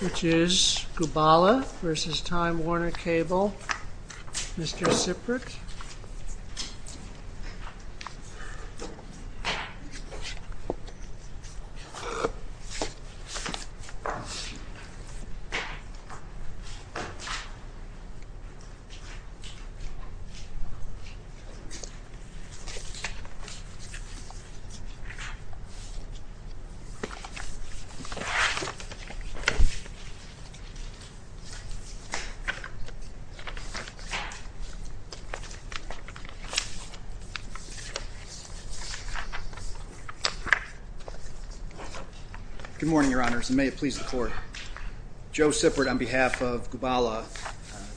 Which is Gubala v. Time Warner Cable, Mr. Zipric. Good morning, your honors, and may it please the court. Joe Zipric on behalf of Gubala,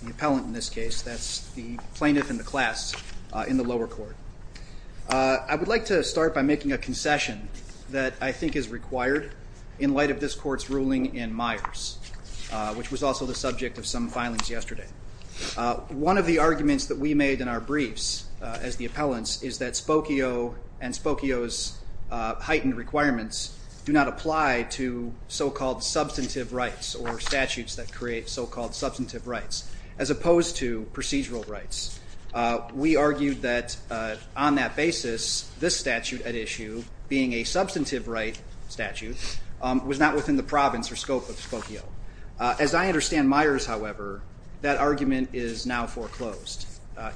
the appellant in this case, that's the plaintiff in the class in the lower court. I would like to start by making a concession that I think is required in light of this court's ruling in Myers, which was also the subject of some filings yesterday. One of the arguments that we made in our briefs as the appellants is that Spokio and Spokio's heightened requirements do not apply to so-called substantive rights or statutes that create so-called substantive rights, as opposed to procedural rights. We argued that on that basis, this statute at issue, being a substantive right statute, was not within the province or scope of Spokio. As I understand Myers, however, that argument is now foreclosed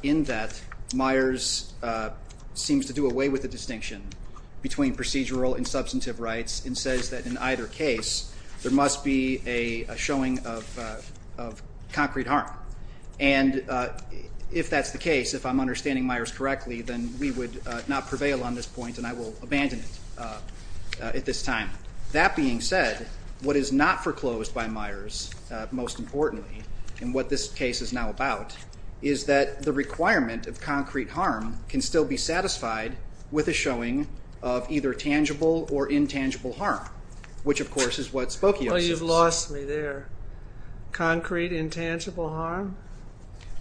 in that Myers seems to do away with the distinction between procedural and substantive rights and says that in either case, there must be a showing of concrete harm. And if that's the case, if I'm understanding Myers correctly, then we would not prevail on this point and I will abandon it at this time. That being said, what is not foreclosed by Myers, most importantly, and what this case is now about, is that the requirement of concrete harm can still be satisfied with a showing of either tangible or intangible harm, which of course is what Spokio says. Well, you've lost me there. Concrete intangible harm?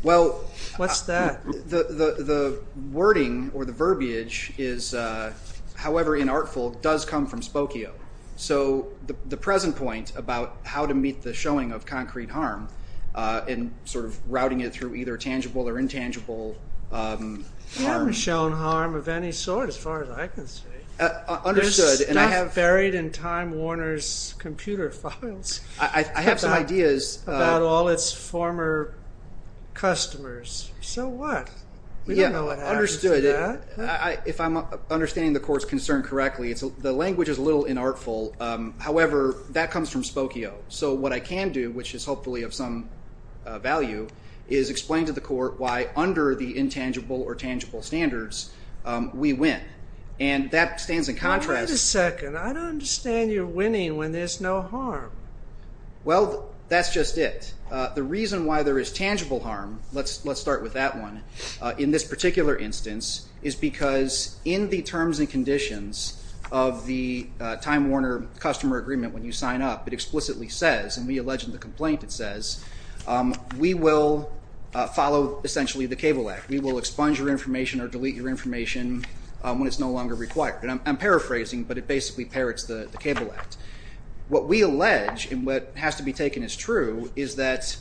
What's that? The wording or the verbiage is, however inartful, does come from Spokio. So the present point about how to meet the showing of concrete harm and sort of routing it through either tangible or intangible harm. I haven't shown harm of any sort as far as I can see. Understood. There's stuff buried in Time Warner's computer files. I have some ideas. About all its former customers. So what? We don't know what happens to that. If I'm understanding the Court's concern correctly, the language is a little inartful. However, that comes from Spokio. So what I can do, which is hopefully of some value, is explain to the Court why under the intangible or tangible standards, we win. And that stands in contrast. Wait a second. I don't understand your winning when there's no harm. Well, that's just it. The reason why there is tangible harm, let's start with that one, in this particular instance is because in the terms and conditions of the Time Warner customer agreement when you sign up, it explicitly says, and we allege in the complaint it says, we will follow essentially the Cable Act. We will expunge your information or delete your information when it's no longer required. I'm paraphrasing, but it basically parrots the Cable Act. What we allege, and what has to be taken as true, is that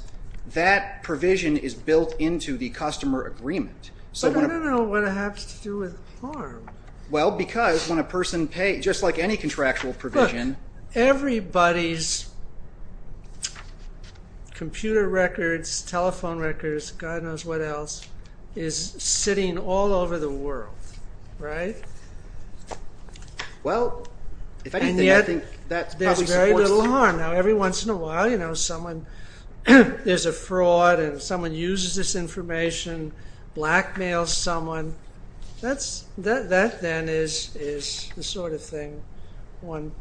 that provision is built into the customer agreement. But I don't know what it has to do with harm. Well, because when a person pays, just like any contractual provision... Look, everybody's computer records, telephone records, God knows what else, is sitting all over the world, right? And yet, there's very little harm. Now, every once in a while, you know, there's a fraud and someone uses this information, blackmails someone, that then is the sort of thing one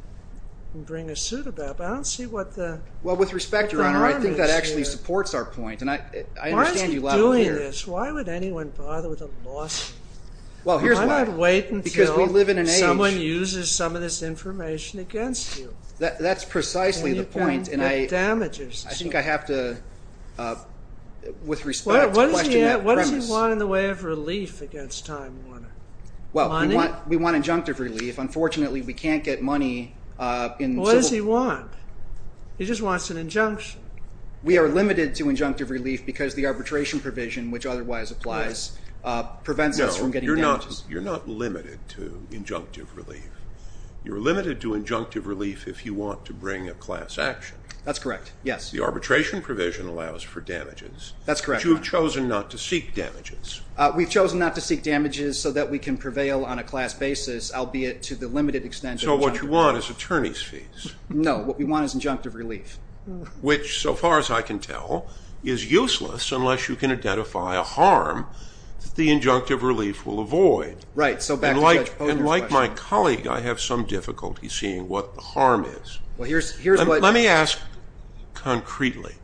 can bring a suit about. But I don't see what the harm is here. Well, with respect, Your Honor, I think that actually supports our point, and I understand you loud and clear. Why is he doing this? Why would anyone bother with a lawsuit? Well, here's why. Why not wait until someone uses some of this information against you? That's precisely the point, and I think I have to, with respect, question that premise. What does he want in the way of relief against Time Warner? Well, we want injunctive relief. Unfortunately, we can't get money in civil... What does he want? He just wants an injunction. We are limited to injunctive relief because the arbitration provision, which otherwise applies, prevents us from getting damages. No, you're not limited to injunctive relief. You're limited to injunctive relief if you want to bring a class action. That's correct, yes. The arbitration provision allows for damages. That's correct, Your Honor. But you've chosen not to seek damages. We've chosen not to seek damages so that we can prevail on a class basis, albeit to the limited extent of injunctive relief. So what you want is attorney's fees. No, what we want is injunctive relief. Which, so far as I can tell, is useless unless you can identify a harm that the injunctive relief will avoid. Right, so back to Judge Ponder's question. And like my colleague, I have some difficulty seeing what the harm is. Well, here's what... Let me ask concretely.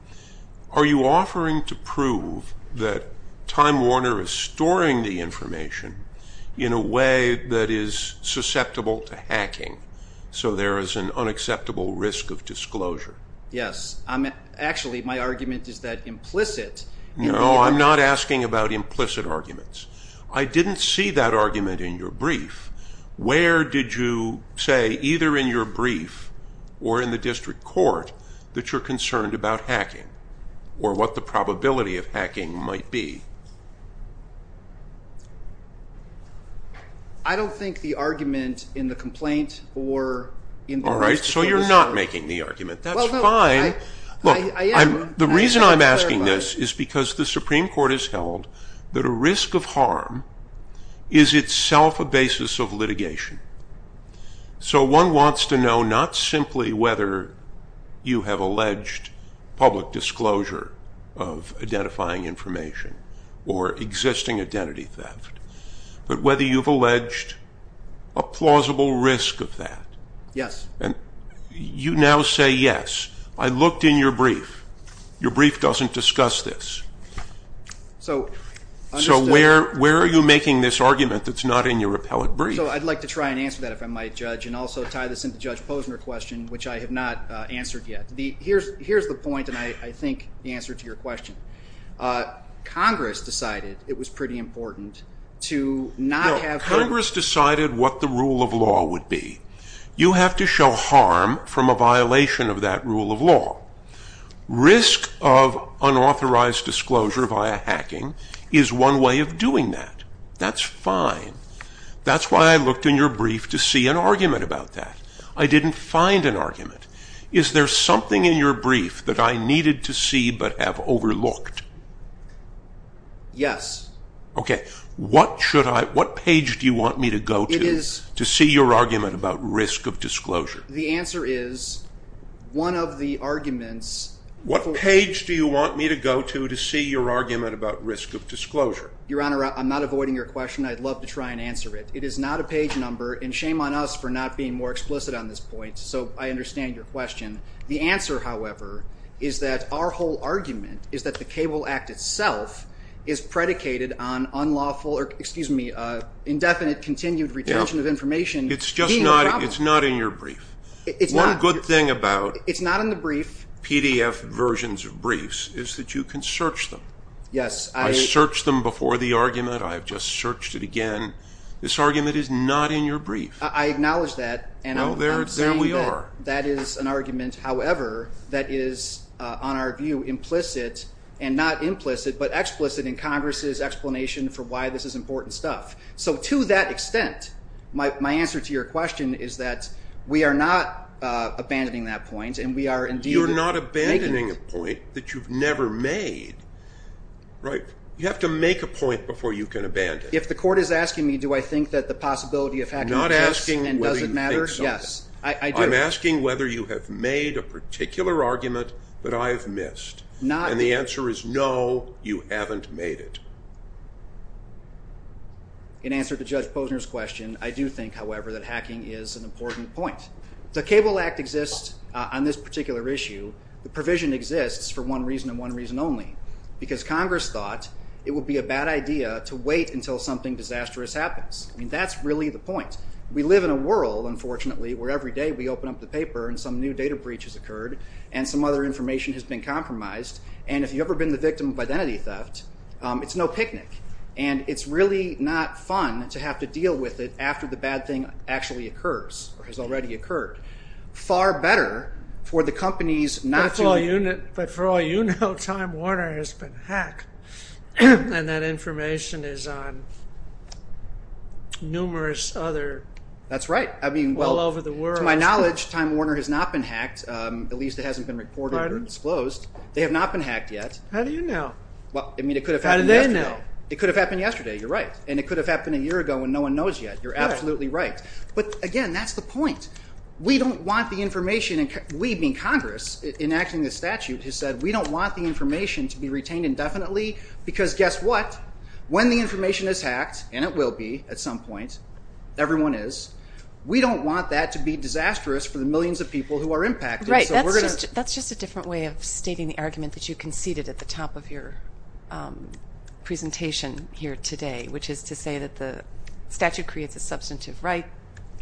Are you offering to prove that Time Warner is storing the information in a way that is susceptible to hacking, so there is an unacceptable risk of disclosure? Yes. Actually, my argument is that implicit... No, I'm not asking about implicit arguments. I didn't see that argument in your brief. Where did you say, either in your brief or in the district court, that you're concerned about hacking or what the probability of hacking might be? I don't think the argument in the complaint or in the district court... All right, so you're not making the argument. That's fine. Well, I am. The reason I'm asking this is because the Supreme Court has held that a risk of harm is itself a basis of litigation. So one wants to know not simply whether you have alleged public disclosure of identifying information or existing identity theft, but whether you've alleged a plausible risk of that. Yes. And you now say, yes. I looked in your brief. Your brief doesn't discuss this. So... So where are you making this argument that's not in your appellate brief? So I'd like to try and answer that, if I might, Judge, and also tie this into Judge Posner's question, which I have not answered yet. Here's the point, and I think the answer to your question. Congress decided it was pretty important to not have... No, Congress decided what the rule of law would be. You have to show harm from a violation of that rule of law. Risk of unauthorized disclosure via hacking is one way of doing that. That's fine. That's why I looked in your brief to see an argument about that. I didn't find an argument. Is there something in your brief that I needed to see but have overlooked? Yes. Okay. What should I... What page do you want me to go to to see your argument about risk of disclosure? The answer is, one of the arguments... What page do you want me to go to to see your argument about risk of disclosure? Your Honour, I'm not avoiding your question. I'd love to try and answer it. It is not a page number, and shame on us for not being more explicit on this point. So I understand your question. The answer, however, is that our whole argument is that the Cable Act itself is predicated on indefinite continued retention of information. It's just not in your brief. One good thing about PDF versions of briefs is that you can search them. I searched them before the argument. I've just searched it again. This argument is not in your brief. I acknowledge that. Well, there we are. That is an argument, however, that is, on our view, implicit, and not implicit, but explicit in Congress's explanation for why this is important stuff. So to that extent, my answer to your question is that we are not abandoning that point, and we are indeed making it. You're not abandoning a point that you've never made. Right? You have to make a point before you can abandon it. If the court is asking me, do I think that the possibility of hacking... I'm not asking whether you think so. Yes, I do. I'm asking whether you have made a particular argument that I've missed, and the answer is no, you haven't made it. In answer to Judge Posner's question, I do think, however, that hacking is an important point. The Cable Act exists on this particular issue. The provision exists for one reason and one reason only, because Congress thought it would be a bad idea to wait until something disastrous happens. That's really the point. We live in a world, unfortunately, where every day we open up the paper and some new data breach has occurred and some other information has been compromised, and if you've ever been the victim of identity theft, it's no picnic, and it's really not fun to have to deal with it after the bad thing actually occurs or has already occurred. Far better for the companies not to... But for all you know, Time Warner has been hacked, and that information is on numerous other... That's right. ...all over the world. To my knowledge, Time Warner has not been hacked, at least it hasn't been reported or disclosed. They have not been hacked yet. How do you know? Well, I mean, it could have happened yesterday. How do they know? It could have happened yesterday, you're right, and it could have happened a year ago when no one knows yet. You're absolutely right. But again, that's the point. We don't want the information... We, being Congress, enacting the statute, has said we don't want the information to be retained indefinitely, because guess what? When the information is hacked, and it will be at some point, everyone is, we don't want that to be disastrous for the millions of people who are impacted. Right. That's just a different way of stating the argument that you conceded at the top of your presentation here today, which is to say that the statute creates a substantive right.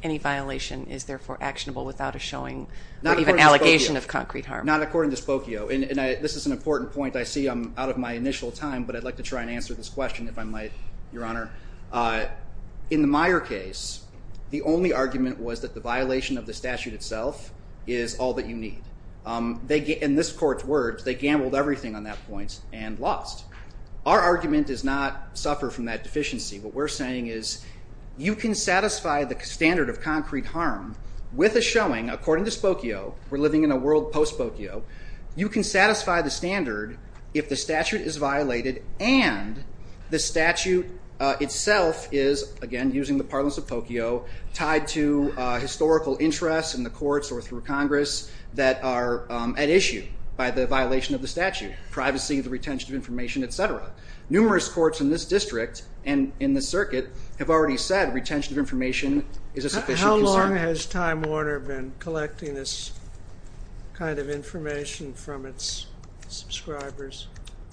Any violation is therefore actionable without a showing or even allegation of concrete harm. Not according to Spokio. And this is an important point. I see I'm out of my initial time, but I'd like to try and answer this question, if I might, Your Honor. In the Meyer case, the only argument was that the violation of the statute itself is all that you need. In this court's words, they gambled everything on that point and lost. Our argument does not suffer from that deficiency. What we're saying is, you can satisfy the standard of concrete harm with a showing, according to Spokio, we're living in a world post-Spokio, you can satisfy the standard if the statute is violated and the statute itself is, again, using the parlance of Spokio, tied to historical interests in the courts or through Congress that are at issue by the violation of the statute. Privacy, the retention of information, etc. Numerous courts in this district and in the circuit have already said retention of information is a sufficient concern. How long has Time Warner been collecting this kind of information from its subscribers?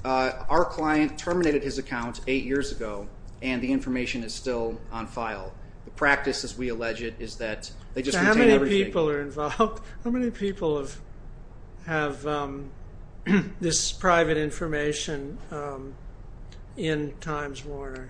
Our client terminated his account 8 years ago and the information is still on file. The practice, as we allege it, is that they just retain everything. How many people are involved? How many people have this private information in Time Warner?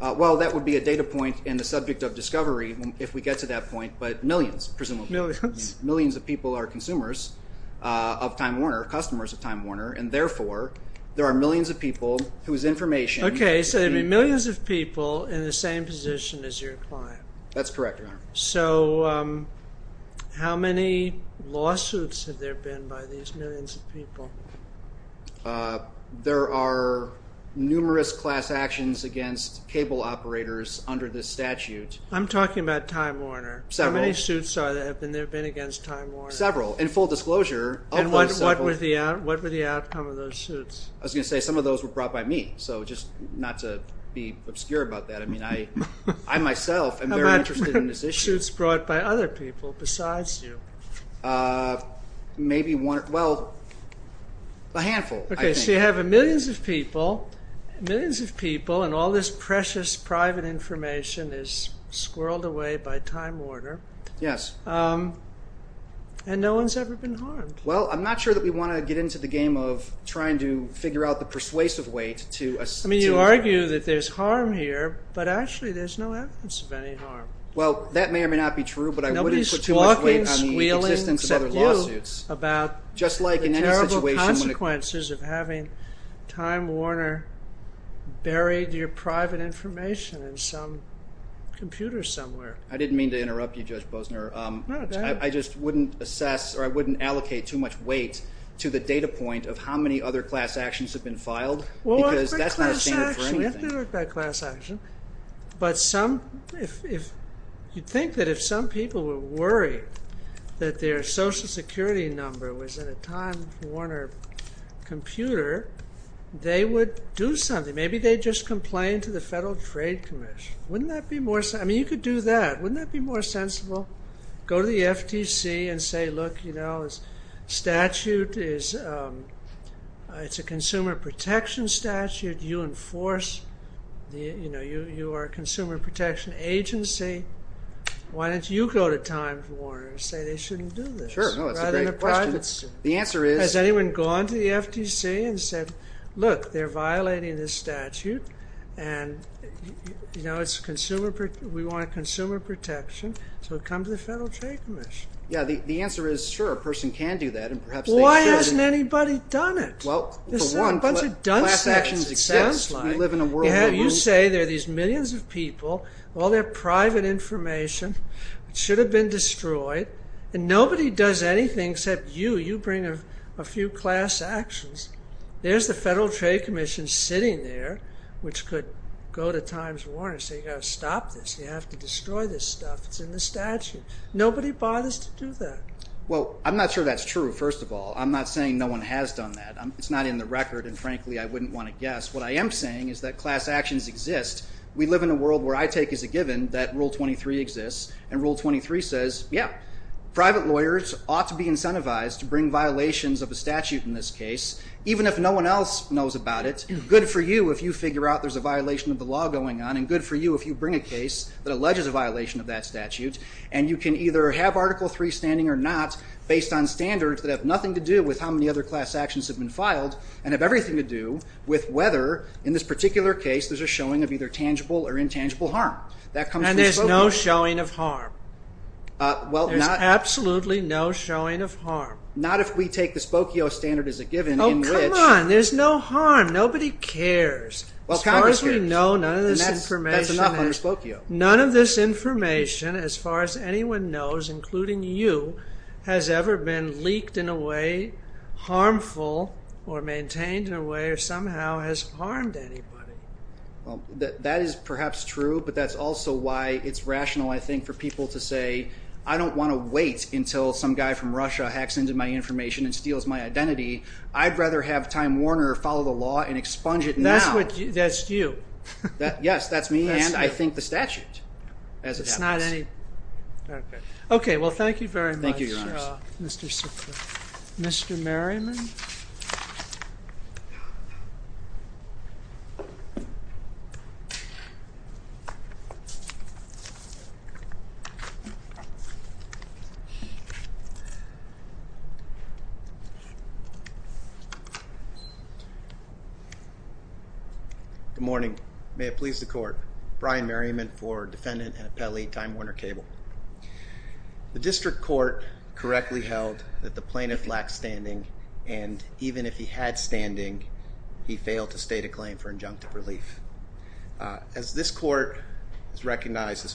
Well, that would be a data point in the subject of discovery if we get to that point, but millions, presumably. Millions? Millions of people are consumers of Time Warner, customers of Time Warner, and therefore there are millions of people whose information... Okay, so there'd be millions of people in the same position as your client. That's correct, Your Honor. So how many lawsuits have there been by these millions of people? There are numerous class actions against cable operators under this statute. I'm talking about Time Warner. Several. How many suits have there been against Time Warner? Several. In full disclosure... And what were the outcome of those suits? I was going to say some of those were brought by me, so just not to be obscure about that. I mean, I myself am very interested in this issue. How many suits brought by other people besides you? Maybe one... Well, a handful, I think. Okay, so you have millions of people, millions of people, and all this precious private information is squirreled away by Time Warner. Yes. And no one's ever been harmed. Well, I'm not sure that we want to get into the game of trying to figure out the persuasive way to... I mean, you argue that there's harm here, but actually there's no evidence of any harm. Well, that may or may not be true, but I wouldn't put too much weight on the existence of other lawsuits. Nobody's talking, squealing except you about the terrible consequences of having Time Warner buried your private information in some computer somewhere. I didn't mean to interrupt you, Judge Bosner. No, go ahead. I just wouldn't assess or I wouldn't allocate too much weight to the data point of how many other class actions have been filed because that's not a standard for anything. We have to look at that class action. But some... If... You'd think that if some people were worried that their Social Security number was in a Time Warner computer, they would do something. Maybe they'd just complain to the Federal Trade Commission. Wouldn't that be more... I mean, you could do that. Wouldn't that be more sensible? Go to the FTC and say, look, you know, this statute is... It's a consumer protection statute. You enforce... You know, you are a consumer protection agency. Why don't you go to Time Warner and say they shouldn't do this? Sure, no, that's a great question. The answer is... Has anyone gone to the FTC and said, look, they're violating this statute and, you know, it's consumer... We want consumer protection. So come to the Federal Trade Commission. Yeah, the answer is, sure, a person can do that and perhaps they shouldn't. Why hasn't anybody done it? Well, for one, class actions exist. It sounds like. We live in a world where... You say there are these millions of people, all their private information should have been destroyed and nobody does anything except you. You bring a few class actions and there's the Federal Trade Commission sitting there which could go to Times Warner and say, you've got to stop this. You have to destroy this stuff. It's in the statute. Nobody bothers to do that. Well, I'm not sure that's true, first of all. I'm not saying no one has done that. It's not in the record and, frankly, I wouldn't want to guess. What I am saying is that class actions exist. We live in a world where I take as a given that Rule 23 exists and Rule 23 says, yeah, private lawyers ought to be incentivized to bring violations of a statute in this case even if no one else knows about it. Good for you if you figure out there's a violation of the law going on and good for you if you bring a case that alleges a violation of that statute and you can either have Article III standing or not based on standards that have nothing to do with how many other class actions have been filed and have everything to do with whether in this particular case there's a showing of either tangible or intangible harm. And there's no showing of harm? There's absolutely no showing of harm. Not if we take the Spokio standard as a given in which... Oh, come on. There's no harm. Nobody cares. Well, Congress cares. As far as we know none of this information That's enough under Spokio. None of this information as far as anyone knows including you has ever been leaked in a way harmful or maintained in a way or somehow has harmed anybody. Well, that is perhaps true but that's also why it's rational I think for people to say I don't want to wait until some guy from Russia hacks into my information and steals my identity I'd rather have Time Warner follow the law and expunge it now. That's you. Yes, that's me and I think the statute as it happens. It's not any... Okay. Okay. Well, thank you very much Thank you, Your Honor. Mr. Sickler. Mr. Merriman? Good morning. May it please the court. Brian Merriman for Defendant and Appellee Time Warner Cable. The district court correctly held that the plaintiff lacked standing and even if he had standing he failed this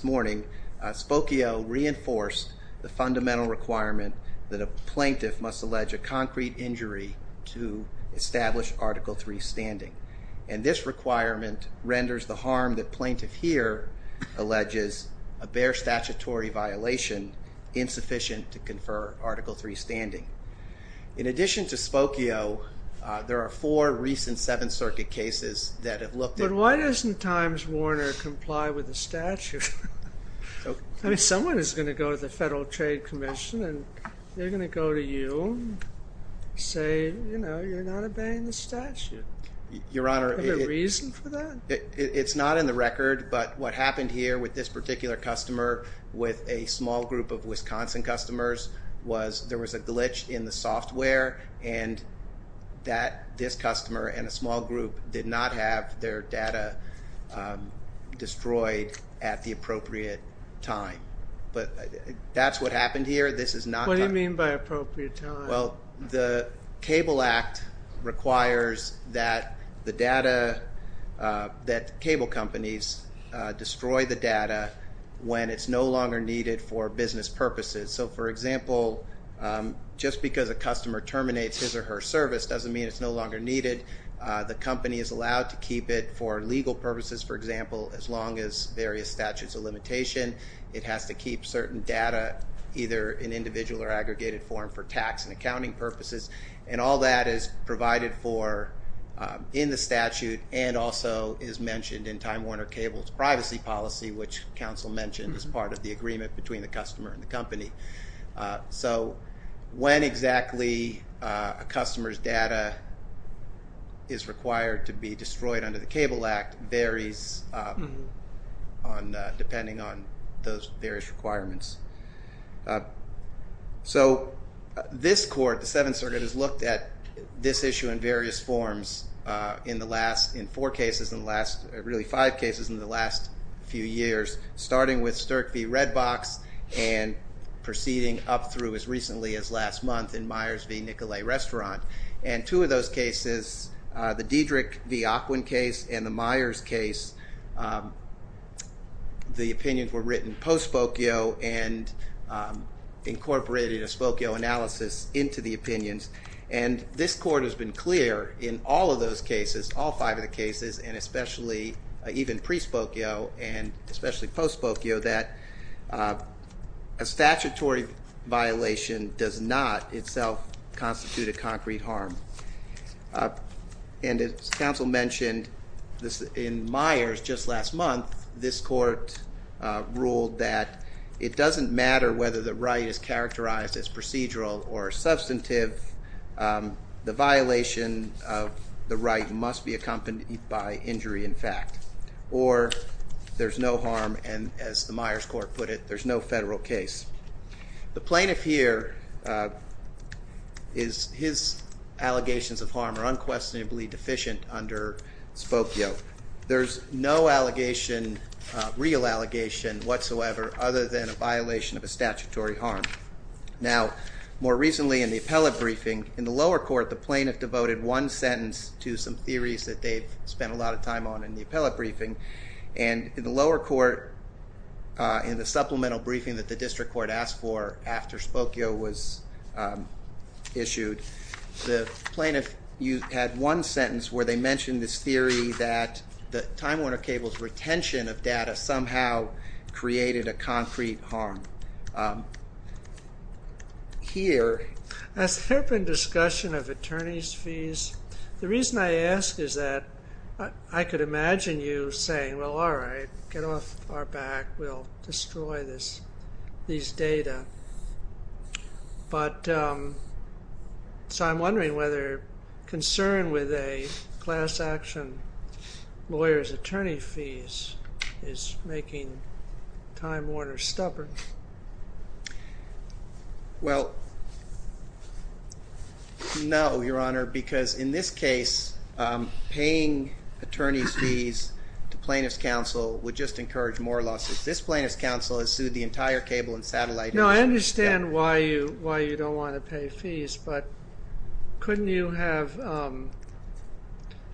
morning Spokio reinforced the fundamental requirement that the plaintiff and the defendant have the right to speak to the court and the plaintiff and the defendant that a plaintiff must allege a concrete injury to establish Article III standing and this requirement renders the harm that plaintiff here alleges a bare statutory violation insufficient to confer Article III standing. In addition to Spokio there are four recent Seventh Circuit cases that have looked at... But why doesn't Times Warner comply with they're gonna go to you say you know you're not obeying the statute Your Honor Is there a reason for that? It's not in the record but what happened here with this particular customer with a small group of Wisconsin customers was there was a glitch in the software and that this customer and a small group did not have their data um destroyed at the appropriate time but that's what happened here this is not What do you mean by appropriate time? Well the Cable Act requires that the data uh that cable companies uh destroy the data when it's no longer needed for business purposes so for example um just because a customer terminates his or her service doesn't mean it's no longer needed uh the company is allowed to keep it for legal purposes for example as long as it meets various statutes of limitation it has to keep certain data either in individual or aggregated form for tax and accounting purposes and all that is provided for um in the statute and also is mentioned in Time Warner Cable's privacy policy which council mentioned as part of the agreement between the customer and the company uh so when exactly uh a customer's data is required to be destroyed under the Cable Act varies um on uh depending on those various requirements uh so this court the Seventh Circuit has looked at this issue in various forms uh in the last in four cases in the last really five cases in the last few years starting with Sterk v. Redbox and proceeding up through as recently as last month in Myers v. Nicolet Restaurant and two of those cases uh the Diedrich v. Ockwin case and the Myers case um the opinions were written post-spokio and um incorporated a spokio analysis into the opinions and this court has been clear in all of those cases all five of the cases and especially even pre-spokio and especially post-spokio that uh a statutory violation does not itself constitute a concrete harm uh and as counsel mentioned in Myers just last month this court uh ruled that it doesn't matter whether the right is characterized as procedural or substantive um the violation of the right must be accompanied by injury in fact or there's no harm and as the Myers court put it there's no federal case. The plaintiff here uh is his allegations of harm are unquestionably deficient under spokio. There's no allegation uh real allegation whatsoever other than a violation of a statutory harm. Now more recently in the appellate briefing in the lower court the plaintiff devoted one sentence to some theories that they've spent a lot of time on in the appellate briefing and in the lower court uh in the supplemental briefing that the district court asked for after spokio was um issued the plaintiff had one sentence where they mentioned this theory that the Time Warner Cable's retention of data somehow created a concrete harm. Um here has there been discussion of attorneys fees? The reason I ask is that I could imagine you saying well all right get off our back we'll destroy this these data but um so I'm wondering whether concern with a class action lawyers attorney fees is making Time Warner stubborn? Well no your honor because in this case um the plaintiff's counsel would just encourage more losses. This plaintiff's counsel has sued the entire cable and satellite No I understand why you don't want to pay fees but couldn't you have um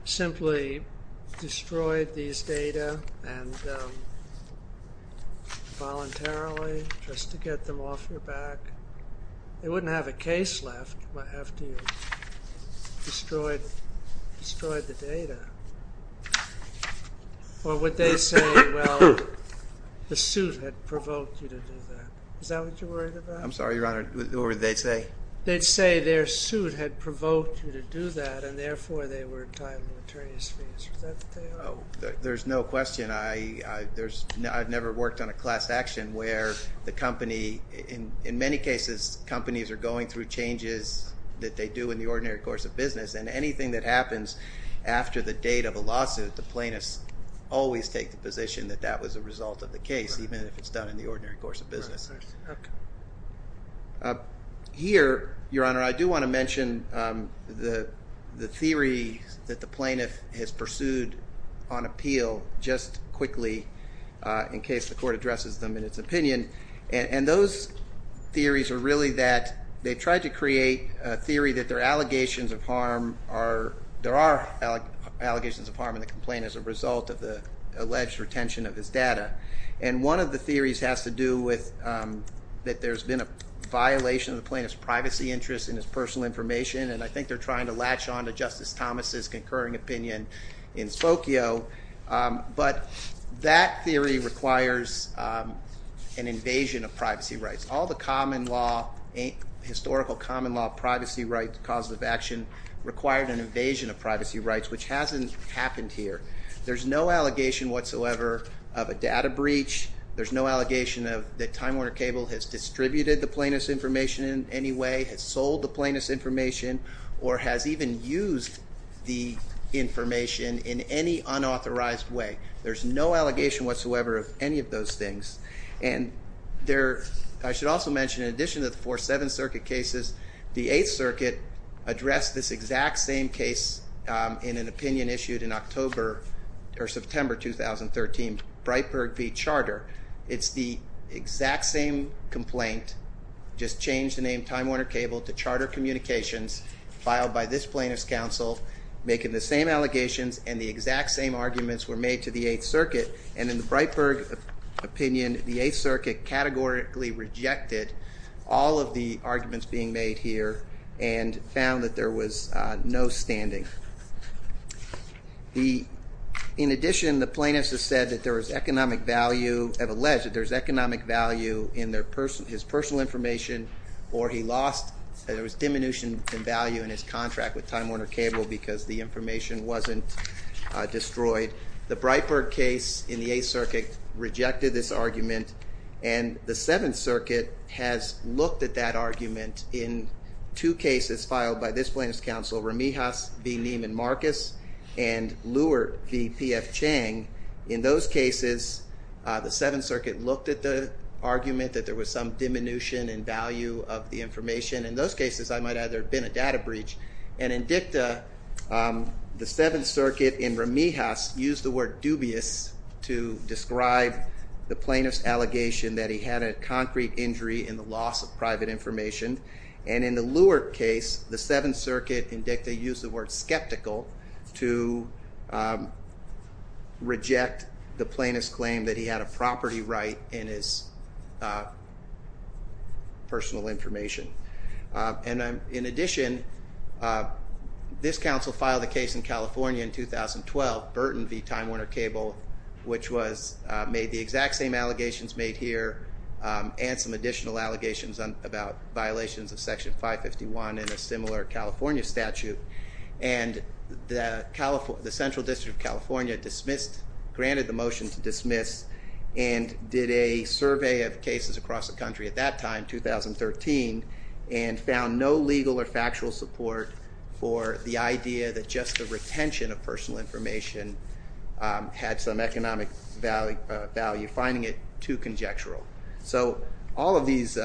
simply destroyed these data and um voluntarily just to or would they say well the suit had provoked you to do that is that what you're worried about? I'm sorry your honor what would they say? They'd say their suit had provoked you to do that and therefore they were entitled attorney's fees is that what they are? There's no question I there's I've never worked on a class action where the company in many cases companies are going through changes that they do in the ordinary course of business and anything that happens after the date of a lawsuit the plaintiffs always take the position that that was the result of the case even if it's done in the ordinary course of business here your honor I do want to mention um the theory that the plaintiff has pursued on appeal just quickly in case the court addresses them in its opinion and those theories are really that they tried to create a theory that their allegations of harm are there are allegations of harm in the complaint as a result of the alleged retention of his data and one of the theories has to do with that there's been a violation of the plaintiff's privacy interest in his personal information and I think they're trying to latch on to justice Thomas's concurring opinion in Spokio um but that theory requires um an invasion of privacy rights. All the common law historical common law privacy rights cause of action required an invasion of privacy rights which hasn't happened here. There's no allegation whatsoever of a data information in any unauthorized way. There's no allegation whatsoever of any of those things and there I should also mention in addition to the four seven circuit cases the eighth circuit addressed this exact same case um with the charter communications filed by this plaintiff's counsel making the same allegations and the exact same arguments were made to the eighth circuit and in the Breitberg opinion the eighth circuit categorically rejected all of the argument that there was diminution in value in his contract with Time Warner Cable because the information wasn't destroyed. The Breitberg case in the eighth circuit rejected this argument and the seventh circuit has looked at that case and in dicta the seventh circuit used the word dubious to describe the plaintiff's allegation that he had a concrete injury in the loss of private information and in the Leward case the seventh circuit in dicta used the word skeptical to reject the plaintiff's claim that he had a property right in his personal information. In addition this council filed a case in California in 2012 Burton v. Time Warner Cable which was made the exact same allegations made here and some additional allegations about violations of section 551 in a similar California statute and the Central District of California dismissed granted the motion to dismiss and did a survey of cases across the country at that time 2013 and found no legal or factual support for the idea that just the retention of personal information had some economic value finding it too conjectural all of these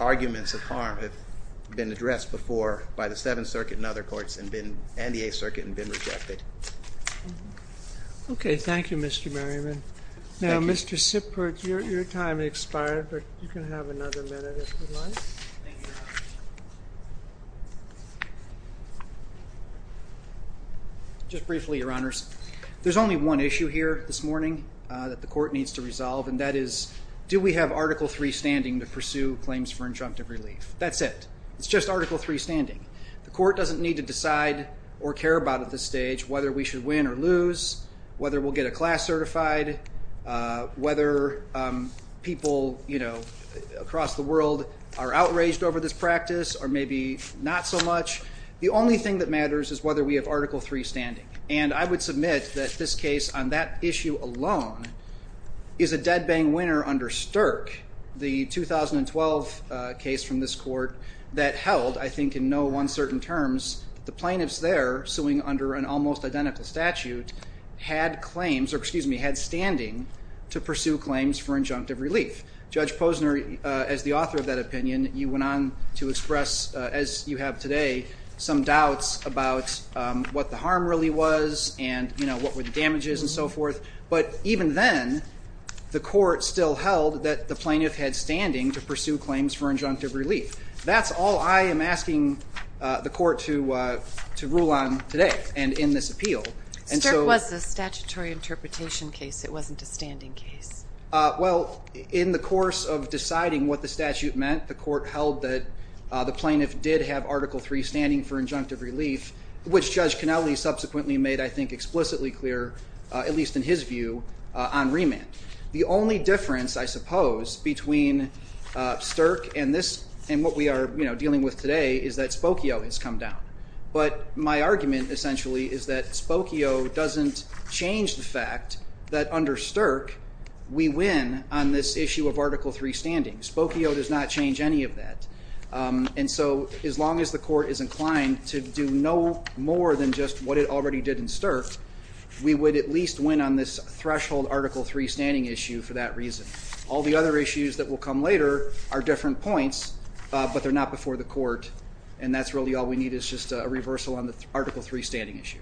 arguments of harm have been addressed before by the 7th Circuit and other courts and the 8th Circuit and been rejected. Okay, thank you Mr. Merriman. Now Mr. Sippert, your time has expired but you can have another minute if you'd like. Just briefly Your Honors, there's only one issue here this morning that the court needs to resolve and that is do we have Article 3 standing to pursue claims for interruptive relief? That's it. It's just Article 3 standing. The court doesn't need to decide or care about at this stage whether we should win or lose, whether we'll get a class certified, whether people across the world are outraged over this practice or maybe not so much. The only thing that matters is whether we have Article 3 standing. And I would submit that this case on that issue alone is a dead bang winner under Stirk. The 2012 case from this court that held I think in no one certain terms the plaintiffs there suing under an almost identical statute had claims or excuse me had standing to pursue on what the harm really was and what were the damages and so forth. But even then the court still held that the plaintiff had standing to pursue claims for injunctive relief. That's all I am asking the court to rule on today and in this appeal. Stirk was a statutory interpretation case it wasn't a standing case. Well in the course of deciding what the statute meant the court held that the plaintiff did have Article 3 standing for injunctive relief. So Spokio doesn't change the fact that under Stirk we win on this issue of Article 3 standing. Spokio does not change any of that. And so as long as the court is inclined to do no more than just what it already did in Stirk we would at least win on this threshold Article 3 standing issue for that reason. All the other issues that will come later are different points but they're not before the court and that's really all we need is just a reversal on the Article 3 standing issue.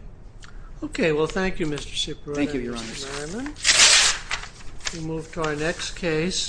Okay, well thank you Mr. Cipriano and Mr. Merriman. We move to our next case.